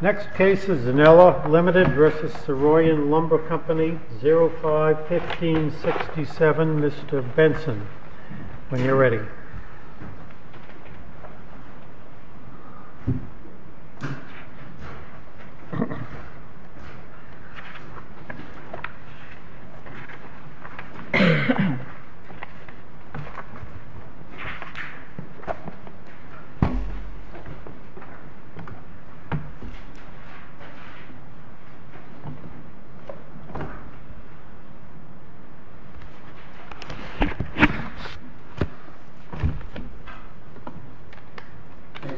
Next case is Zanella LTD v. Saroyan Lumber Co, 05-1567. Mr. Benson, when you're ready. Thank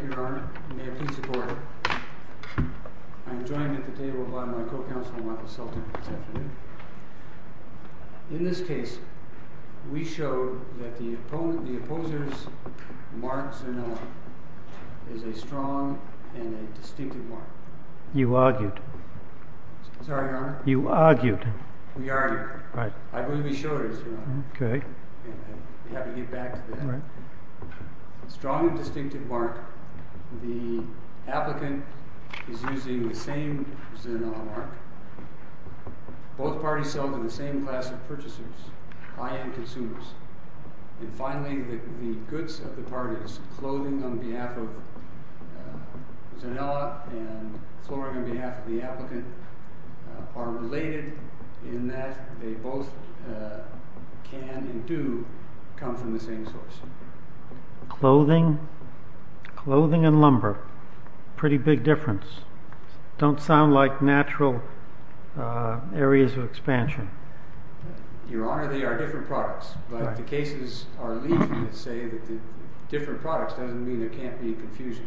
you, Your Honor. May it please the Court. I am joined at the table by my co-counsel, Martha Sultan, this afternoon. In this case, we showed that the opposer's marked Zanella is a strong and a distinctive mark. You argued. Sorry, Your Honor? You argued. We argued. Right. I believe we showed it, Your Honor. Okay. We have to get back to that. Right. Strong and distinctive mark. The applicant is using the same Zanella mark. Both parties sell to the same class of purchasers, high-end consumers. Finally, the goods of the parties, clothing on behalf of Zanella and flooring on behalf of the applicant, are related in that they both can and do come from the same source. Clothing and lumber. Pretty big difference. Don't sound like natural areas of expansion. Your Honor, they are different products. Right. But the cases are legion that say that different products doesn't mean there can't be confusion.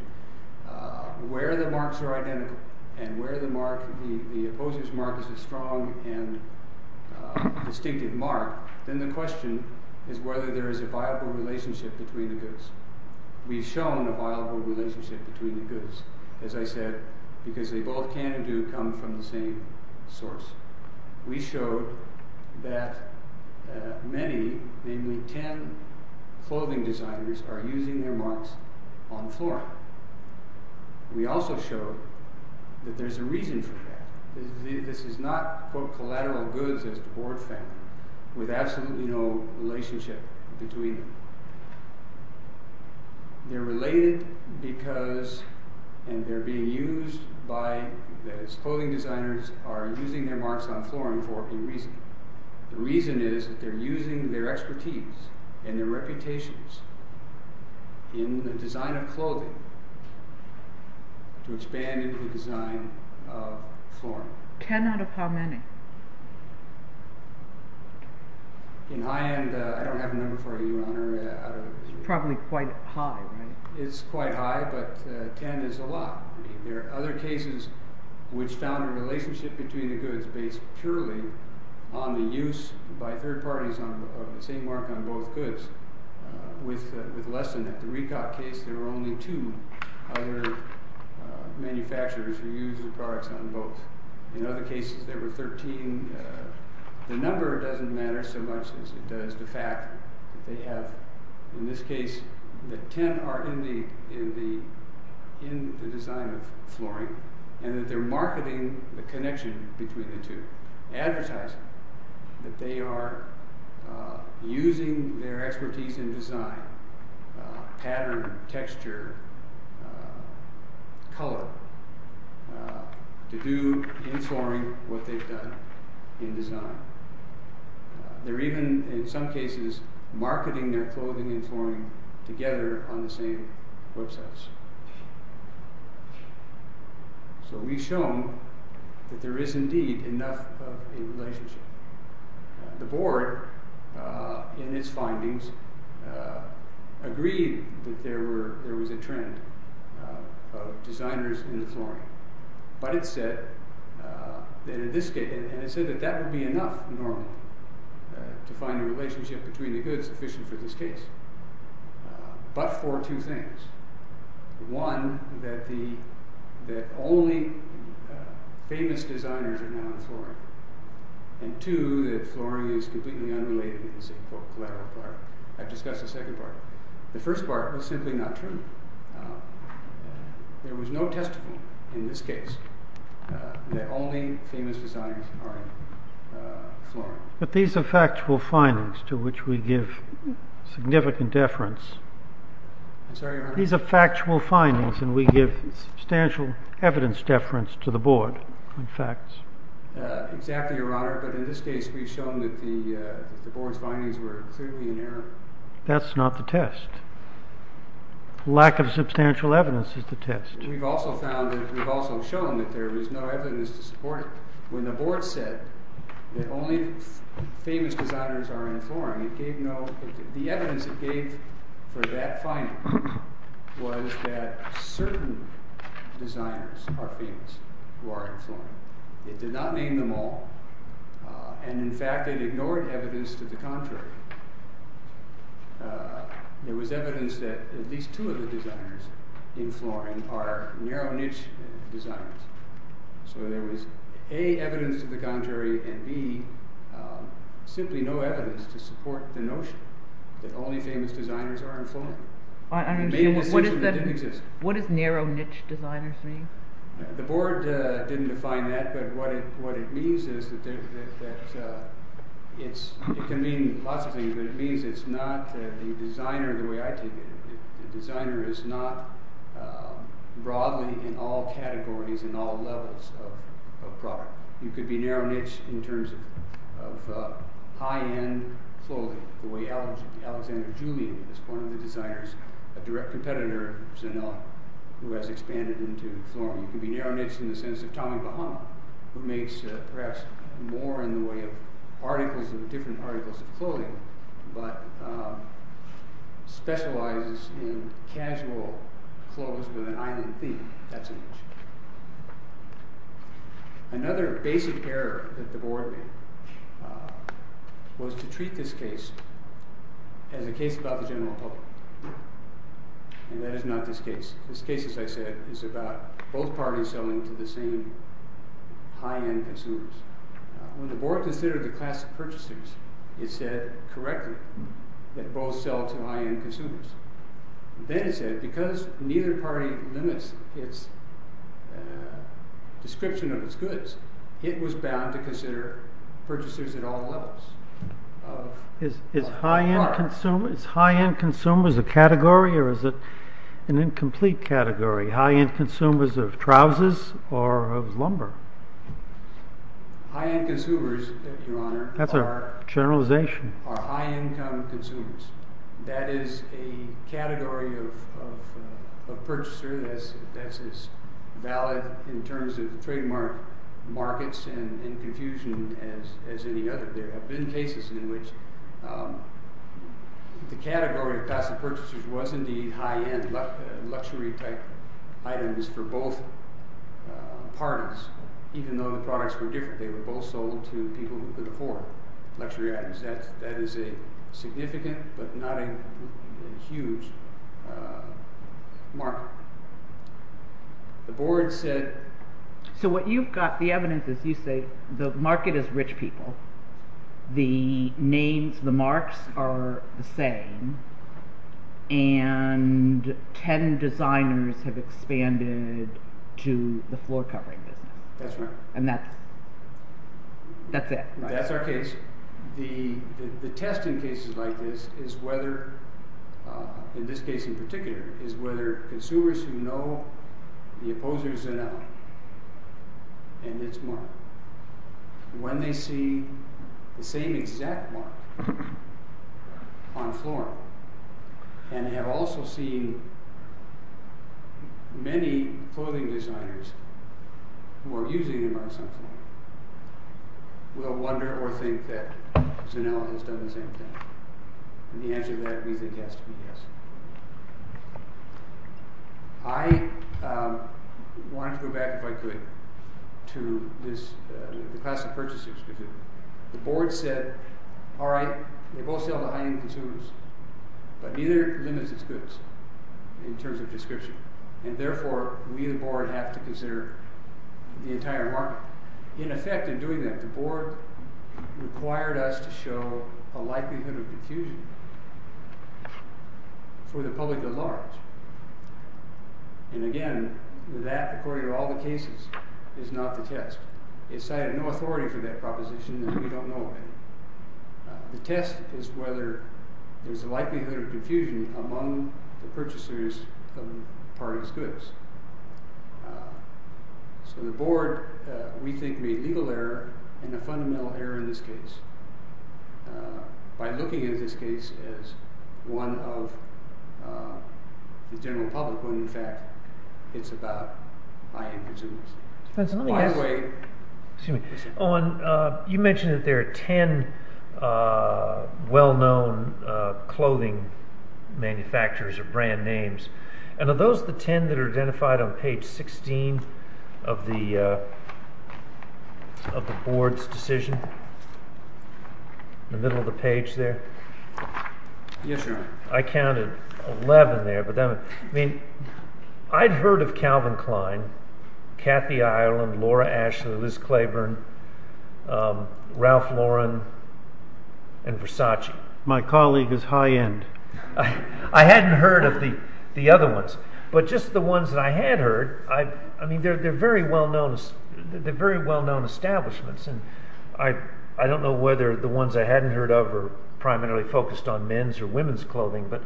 Where the marks are identical and where the opposer's mark is a strong and distinctive mark, then the question is whether there is a viable relationship between the goods. We've shown a viable relationship between the goods, as I said, because they both can and do come from the same source. We showed that many, namely ten, clothing designers are using their marks on flooring. We also showed that there's a reason for that. This is not, quote, collateral goods as the Board found, with absolutely no relationship between them. They're related because, and they're being used by, as clothing designers are using their marks on flooring for a reason. The reason is that they're using their expertise and their reputations in the design of clothing to expand into the design of flooring. Ten out of how many? In high end, I don't have a number for you, Your Honor. It's probably quite high, right? It's quite high, but ten is a lot. I mean, there are other cases which found a relationship between the goods based purely on the use by third parties of the same mark on both goods with less than that. In the Recock case, there were only two other manufacturers who used the products on both. In other cases, there were 13. The number doesn't matter so much as it does the fact that they have, in this case, that ten are in the design of flooring and that they're marketing the connection between the two. They're advertising that they are using their expertise in design, pattern, texture, color, to do in flooring what they've done in design. They're even, in some cases, marketing their clothing and flooring together on the same websites. So we've shown that there is, indeed, enough of a relationship. The board, in its findings, agreed that there was a trend of designers in the flooring. But it said that that would be enough, normally, to find a relationship between the goods sufficient for this case, but for two things. One, that the only famous designers are now in flooring. And two, that flooring is completely unrelated in this collateral part. I've discussed the second part. The first part was simply not true. There was no testimony, in this case, that only famous designers are in flooring. But these are factual findings to which we give significant deference. These are factual findings, and we give substantial evidence deference to the board on facts. Exactly, Your Honor. But in this case, we've shown that the board's findings were clearly in error. That's not the test. Lack of substantial evidence is the test. We've also shown that there is no evidence to support it. When the board said that only famous designers are in flooring, the evidence it gave for that finding was that certain designers are famous who are in flooring. It did not name them all. And, in fact, it ignored evidence to the contrary. There was evidence that at least two of the designers in flooring are narrow niche designers. So there was, A, evidence to the contrary, and, B, simply no evidence to support the notion that only famous designers are in flooring. What does narrow niche designers mean? The board didn't define that, but what it means is that it can mean lots of things, but it means it's not the designer the way I take it. The designer is not broadly in all categories and all levels of product. You could be narrow niche in terms of high-end clothing, the way Alexander Julian is one of the designers, a direct competitor, who has expanded into flooring. You could be narrow niche in the sense of Tommy Bahama, who makes perhaps more in the way of articles and different articles of clothing, but specializes in casual clothes with an island theme. That's a niche. Another basic error that the board made was to treat this case as a case about the general public. And that is not this case. This case, as I said, is about both parties selling to the same high-end consumers. When the board considered the class of purchasers, it said correctly that both sell to high-end consumers. Then it said, because neither party limits its description of its goods, it was bound to consider purchasers at all levels. Is high-end consumers a category or is it an incomplete category? High-end consumers of trousers or of lumber? High-end consumers, your honor, are high-income consumers. That is a category of purchaser that is valid in terms of trademark markets and in confusion as any other. There have been cases in which the category of passive purchasers was indeed high-end, luxury-type items for both parties, even though the products were different. They were both sold to people who could afford luxury items. That is a significant but not a huge mark. The board said... So what you've got, the evidence is you say the market is rich people, the names, the marks are the same, and ten designers have expanded to the floor-covering business. That's right. And that's it. That's our case. The test in cases like this is whether, in this case in particular, is whether consumers who know the opposers in them and its mark, when they see the same exact mark on floor and have also seen many clothing designers who are using the mark sometimes, will wonder or think that Zanella has done the same thing. And the answer to that, we think, has to be yes. I wanted to go back, if I could, to the passive purchasers. The board said, all right, they both sell to high-end consumers, but neither limits its goods in terms of description, and therefore we, the board, have to consider the entire market. In effect, in doing that, the board required us to show a likelihood of confusion for the public at large. And again, that, according to all the cases, is not the test. It cited no authority for that proposition, and we don't know it. The test is whether there's a likelihood of confusion among the purchasers of the party's goods. So the board, we think, made legal error and a fundamental error in this case by looking at this case as one of the general public, when in fact it's about high-end consumers. Excuse me. Owen, you mentioned that there are ten well-known clothing manufacturers or brand names. And are those the ten that are identified on page 16 of the board's decision, in the middle of the page there? Yes, sir. I counted 11 there. I'd heard of Calvin Klein, Kathy Ireland, Laura Ashley, Liz Claiborne, Ralph Lauren, and Versace. My colleague is high-end. I hadn't heard of the other ones, but just the ones that I had heard, I mean, they're very well-known establishments, and I don't know whether the ones I hadn't heard of are primarily focused on men's or women's clothing, but,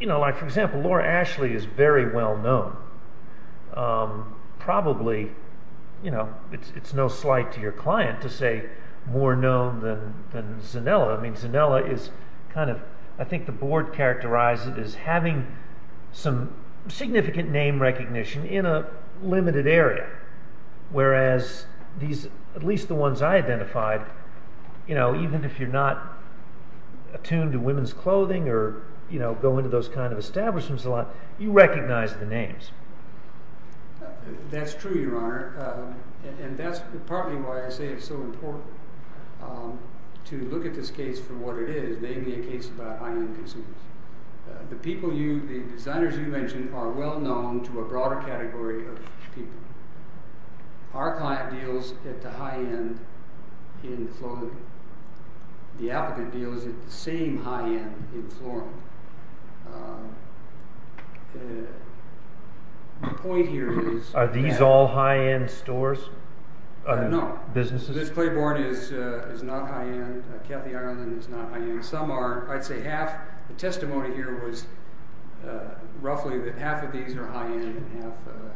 you know, like for example, Laura Ashley is very well-known. Probably, you know, it's no slight to your client to say more known than Zanella. I mean, Zanella is kind of, I think the board characterized it as having some significant name recognition in a limited area, whereas these, at least the ones I identified, you know, even if you're not attuned to women's clothing or, you know, go into those kind of establishments a lot, you recognize the names. That's true, Your Honor, and that's partly why I say it's so important to look at this case for what it is, namely a case about high-end consumers. The people you, the designers you mentioned are well-known to a broader category of people. Our client deals at the high-end in clothing. The applicant deals at the same high-end in flooring. The point here is... Are these all high-end stores? No. Businesses? Kathy Ireland is not high-end. Some are. I'd say half. The testimony here was roughly that half of these are high-end and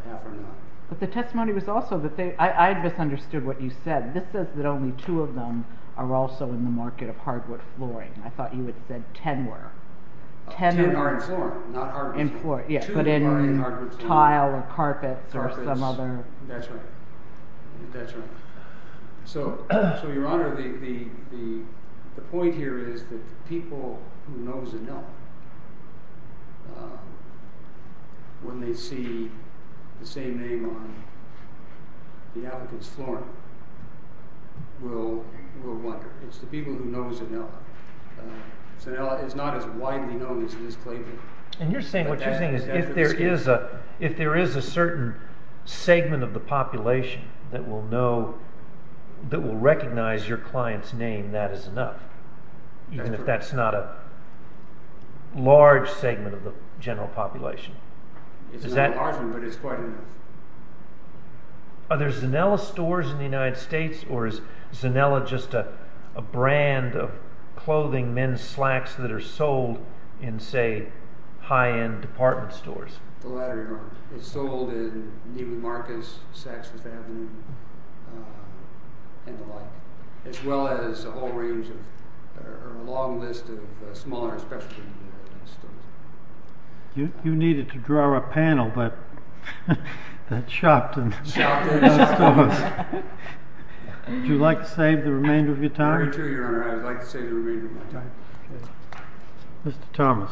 half are not. But the testimony was also that they... I misunderstood what you said. This says that only two of them are also in the market of hardwood flooring. I thought you had said ten were. Ten are in flooring, not hardwood. In flooring, yeah, but in tile or carpets or some other... That's right. That's right. So, Your Honor, the point here is that the people who know Zanella, when they see the same name on the applicant's flooring, will wonder. It's the people who know Zanella. Zanella is not as widely known as it is Clayton. And what you're saying is if there is a certain segment of the population that will recognize your client's name, that is enough, even if that's not a large segment of the general population. It's not a large one, but it's quite enough. Are there Zanella stores in the United States, or is Zanella just a brand of clothing, men's slacks, that are sold in, say, high-end department stores? The latter, Your Honor. It's sold in Neiman Marcus, Saks Fifth Avenue, and the like, as well as a whole range of... or a long list of smaller specialty stores. You needed to draw a panel, but that shocked them. Shocked them. Would you like to save the remainder of your time? Very true, Your Honor. I would like to save the remainder of my time. Mr. Thomas.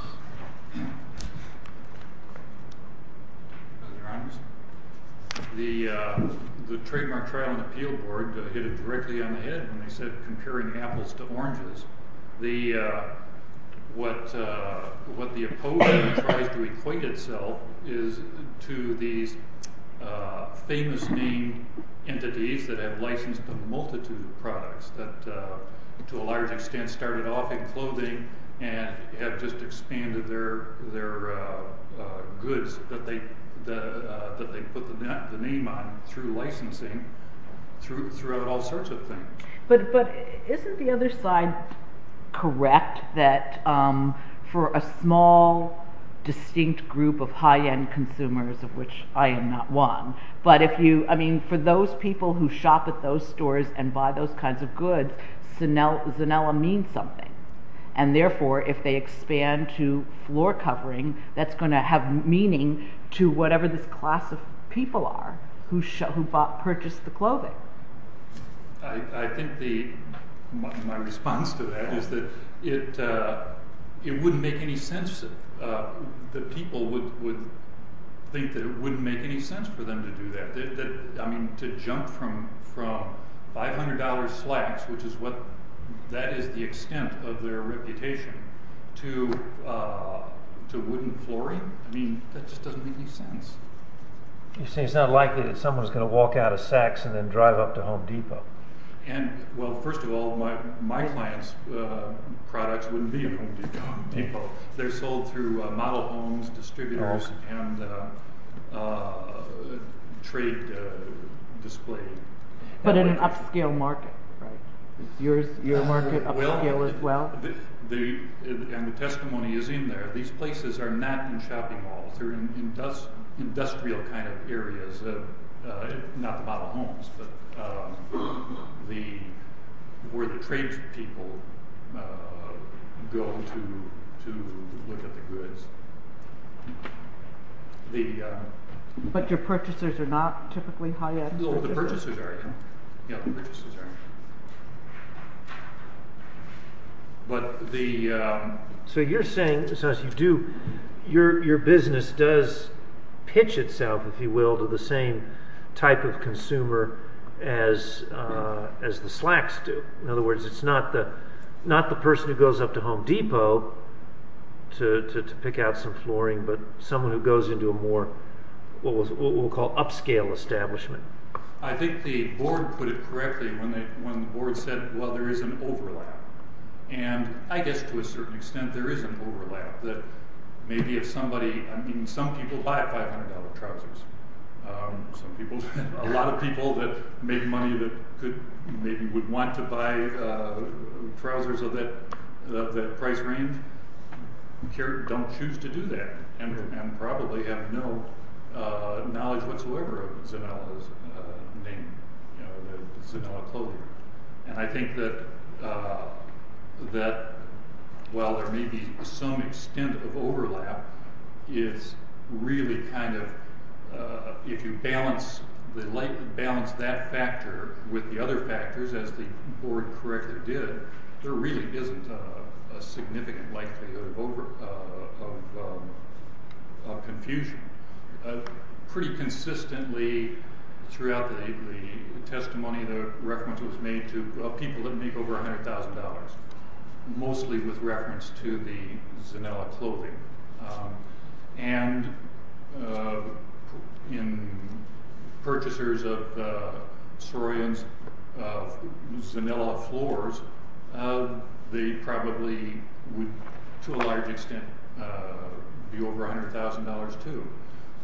The Trademark Trial and Appeal Board hit it directly on the head when they said comparing apples to oranges. What the opposing tries to equate itself is to these famous name entities that have licensed a multitude of products, and have just expanded their goods that they put the name on through licensing throughout all sorts of things. But isn't the other side correct, that for a small, distinct group of high-end consumers, of which I am not one, but for those people who shop at those stores and buy those kinds of goods, Zanella means something. And therefore, if they expand to floor covering, that's going to have meaning to whatever this class of people are who purchased the clothing. I think my response to that is that it wouldn't make any sense that people would think that it wouldn't make any sense for them to do that. To jump from $500 slacks, which is the extent of their reputation, to wooden flooring? I mean, that just doesn't make any sense. You're saying it's not likely that someone's going to walk out of Saks and then drive up to Home Depot. Well, first of all, my clients' products wouldn't be at Home Depot. They're sold through model homes, distributors, and trade display. But in an upscale market, right? Is your market upscale as well? And the testimony is in there. These places are not in shopping malls. They're in industrial kind of areas, not the model homes, but where the trade people go to look at the goods. But your purchasers are not typically high-end stores? No, the purchasers aren't. So you're saying, as you do, your business does pitch itself, if you will, to the same type of consumer as the slacks do. In other words, it's not the person who goes up to Home Depot to pick out some flooring, but someone who goes into a more, what we'll call, upscale establishment. I think the board put it correctly when the board said, well, there is an overlap. Some people buy $500 trousers. A lot of people that make money that maybe would want to buy trousers of that price range don't choose to do that and probably have no knowledge whatsoever of Zanella's name, the Zanella clothing. And I think that while there may be some extent of overlap, it's really kind of, if you balance that factor with the other factors, as the board correctly did, there really isn't a significant likelihood of confusion. Pretty consistently throughout the testimony, the reference was made to people that make over $100,000, mostly with reference to the Zanella clothing. And in purchasers of Soroyan's Zanella floors, they probably would, to a large extent, be over $100,000 too.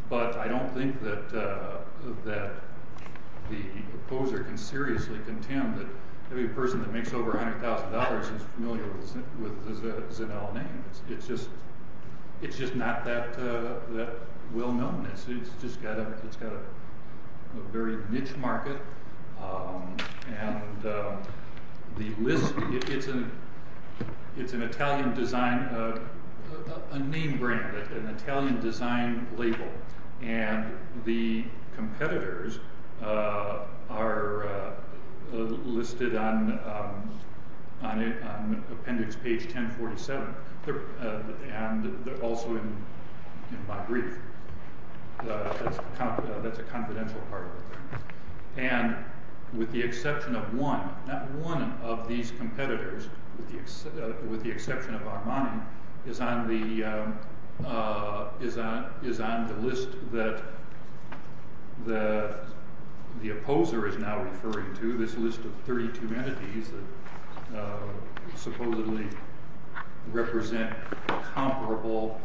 But I don't think that the proposer can seriously contend that every person that makes over $100,000 is familiar with the Zanella name. It's just not that well-known. It's just got a very niche market. And the list, it's an Italian design, a name brand, an Italian design label, and the competitors are listed on appendix page 1047, and also in my brief. That's a confidential part of it. And with the exception of one, not one of these competitors, with the exception of Armani, is on the list that the opposer is now referring to, this list of 32 entities that supposedly represent comparable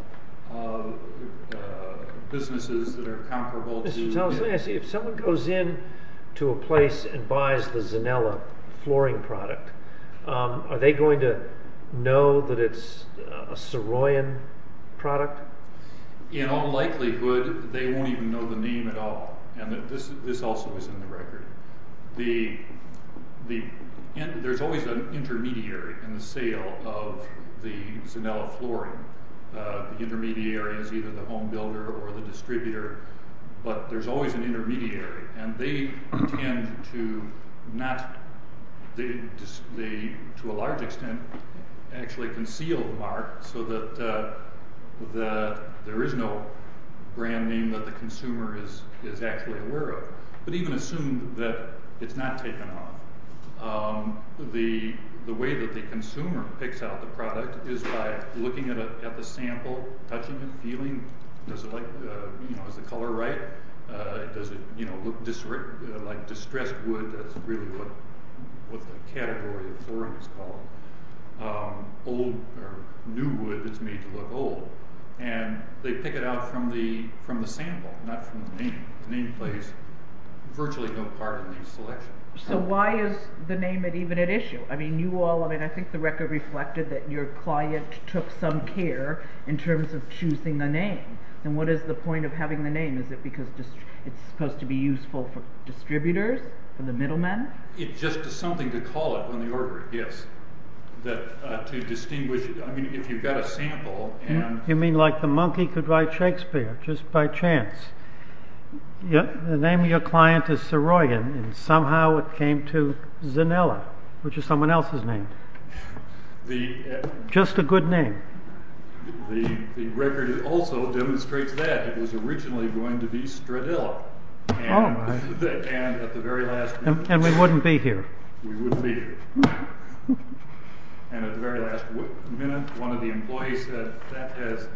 businesses that are comparable to... If someone goes in to a place and buys the Zanella flooring product, are they going to know that it's a Soroyan product? In all likelihood, they won't even know the name at all. And this also is in the record. There's always an intermediary in the sale of the Zanella flooring. The intermediary is either the home builder or the distributor, but there's always an intermediary. And they tend to not... They, to a large extent, actually conceal the mark so that there is no brand name that the consumer is actually aware of, but even assume that it's not taken off. The way that the consumer picks out the product is by looking at the sample, touching it, feeling, is the color right? Does it look like distressed wood? That's really what the category of flooring is called. Old or new wood that's made to look old. And they pick it out from the sample, not from the name. The name plays virtually no part in the selection. So why is the name even at issue? I think the record reflected that your client took some care in terms of choosing the name. And what is the point of having the name? Is it because it's supposed to be useful for distributors? For the middlemen? It's just something to call it when the order it gets. To distinguish it. I mean, if you've got a sample and... You mean like the monkey could write Shakespeare, just by chance. The name of your client is Saroyan, and somehow it came to Zanella, which is someone else's name. Just a good name. The record also demonstrates that. It was originally going to be Stradilla. And at the very last minute... And we wouldn't be here. We wouldn't be here. And at the very last minute, one of the employees said, that has,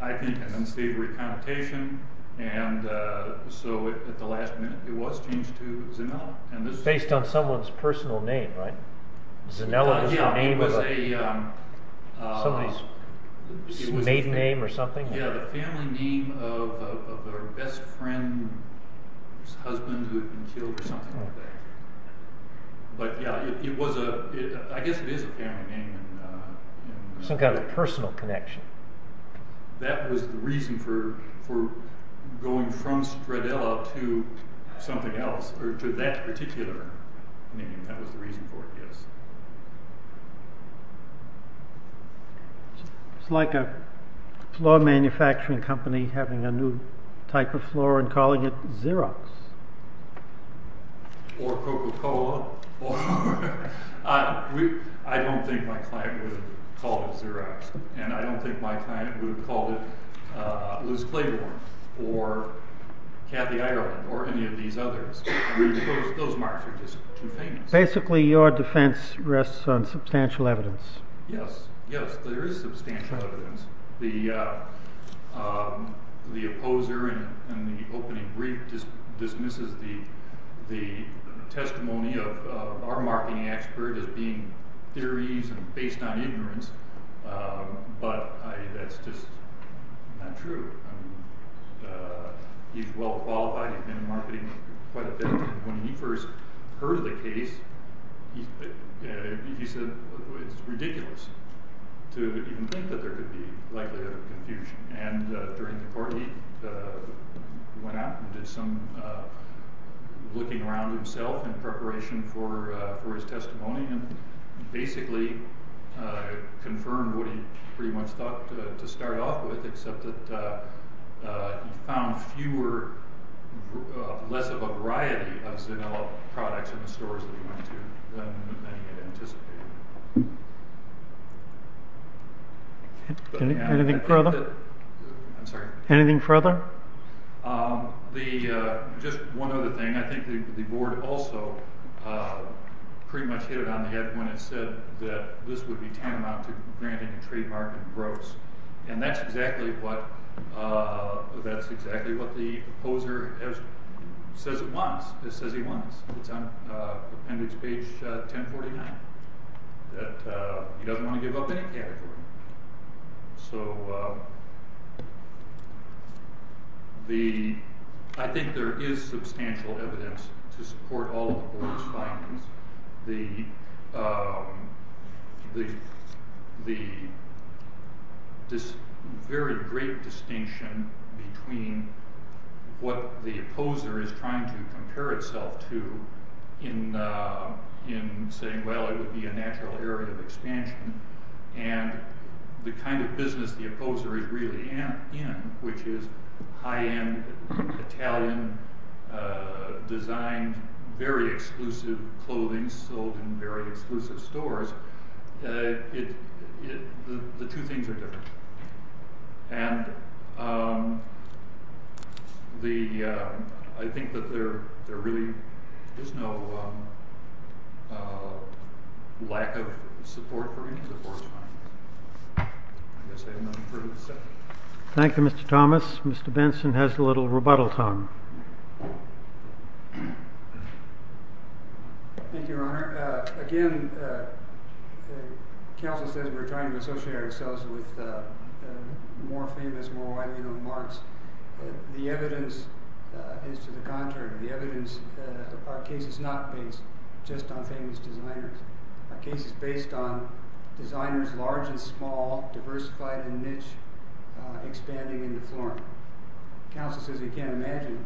I think, an unsavory connotation. And so at the last minute, it was changed to Zanella. Based on someone's personal name, right? Zanella is the name of somebody's maiden name or something? Yeah, the family name of her best friend's husband who had been killed or something like that. But yeah, I guess it is a family name. Some kind of personal connection. That was the reason for going from Stradilla to something else, or to that particular name. That was the reason for it, yes. It's like a floor manufacturing company having a new type of floor and calling it Xerox. Or Coca-Cola. I don't think my client would have called it Xerox. And I don't think my client would have called it Liz Claiborne or Kathy Ireland or any of these others. Those marks are just too famous. Basically, your defense rests on substantial evidence. Yes, there is substantial evidence. The opposer in the opening brief dismisses the testimony of our marketing expert as being theories based on ignorance. But that's just not true. He's well qualified. He's been in marketing quite a bit. When he first heard of the case, he said it's ridiculous to even think that there could be likelihood of confusion. And during the court he went out and did some looking around himself in preparation for his testimony. And basically confirmed what he pretty much thought to start off with except that he found fewer, less of a variety of Zanella products in the stores that he went to than many had anticipated. Anything further? I'm sorry? Anything further? Just one other thing. I think the board also pretty much hit it on the head when it said that this would be tantamount to granting a trademark in gross. And that's exactly what the opposer says it wants. It says he wants. It's on appendix page 1049. He doesn't want to give up any category. So I think there is substantial evidence to support all of the board's findings. This very great distinction between what the opposer is trying to compare itself to in saying, well, it would be a natural area of expansion and the kind of business the opposer is really in, which is high-end Italian designed, very exclusive clothing sold in very exclusive stores. The two things are different. And I think that there really is no lack of support for any of the board's findings. I guess I have nothing further to say. Thank you, Mr. Thomas. Mr. Benson has a little rebuttal time. Thank you, Your Honor. Again, counsel says we're trying to associate ourselves with more famous, more well-known marks. The evidence is to the contrary. The evidence of our case is not based just on famous designers. Our case is based on designers large and small, diversified and niche, expanding into form. Counsel says he can't imagine.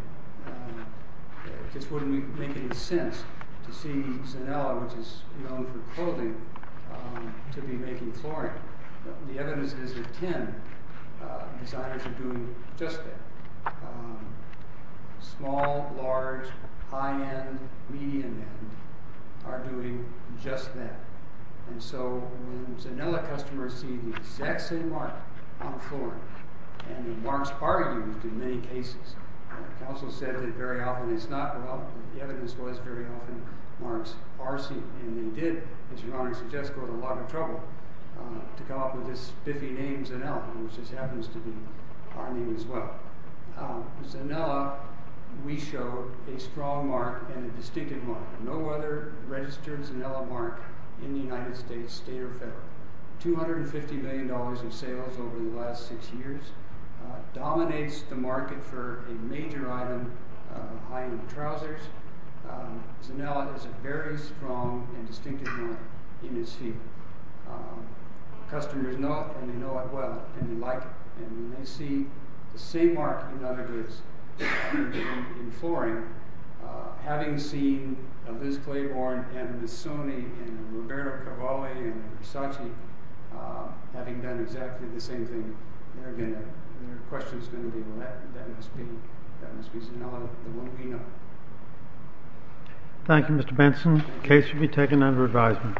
It just wouldn't make any sense to see Zanella, which is known for clothing, to be making flooring. The evidence is that 10 designers are doing just that. Small, large, high-end, medium-end are doing just that. And so when Zanella customers see the exact same mark on flooring, and the marks are used in many cases. Counsel said that very often it's not. Well, the evidence was very often marks are seen. And they did, as Your Honor suggests, go to a lot of trouble to come up with this spiffy name, Zanella, which just happens to be our name as well. Zanella, we show a strong mark and a distinctive mark. No other registered Zanella mark in the United States, state or federal. $250 million in sales over the last six years. Dominates the market for a major item of high-end trousers. Zanella has a very strong and distinctive mark in its feet. Customers know it, and they know it well, and they like it. And when they see the same mark in other goods, in flooring, having seen Liz Claiborne and Missoni and Roberto Cavalli and Versace, having done exactly the same thing, they're going to, their question is going to be, well, that must be Zanella, the one we know. Thank you, Mr. Benson. The case should be taken under advisement.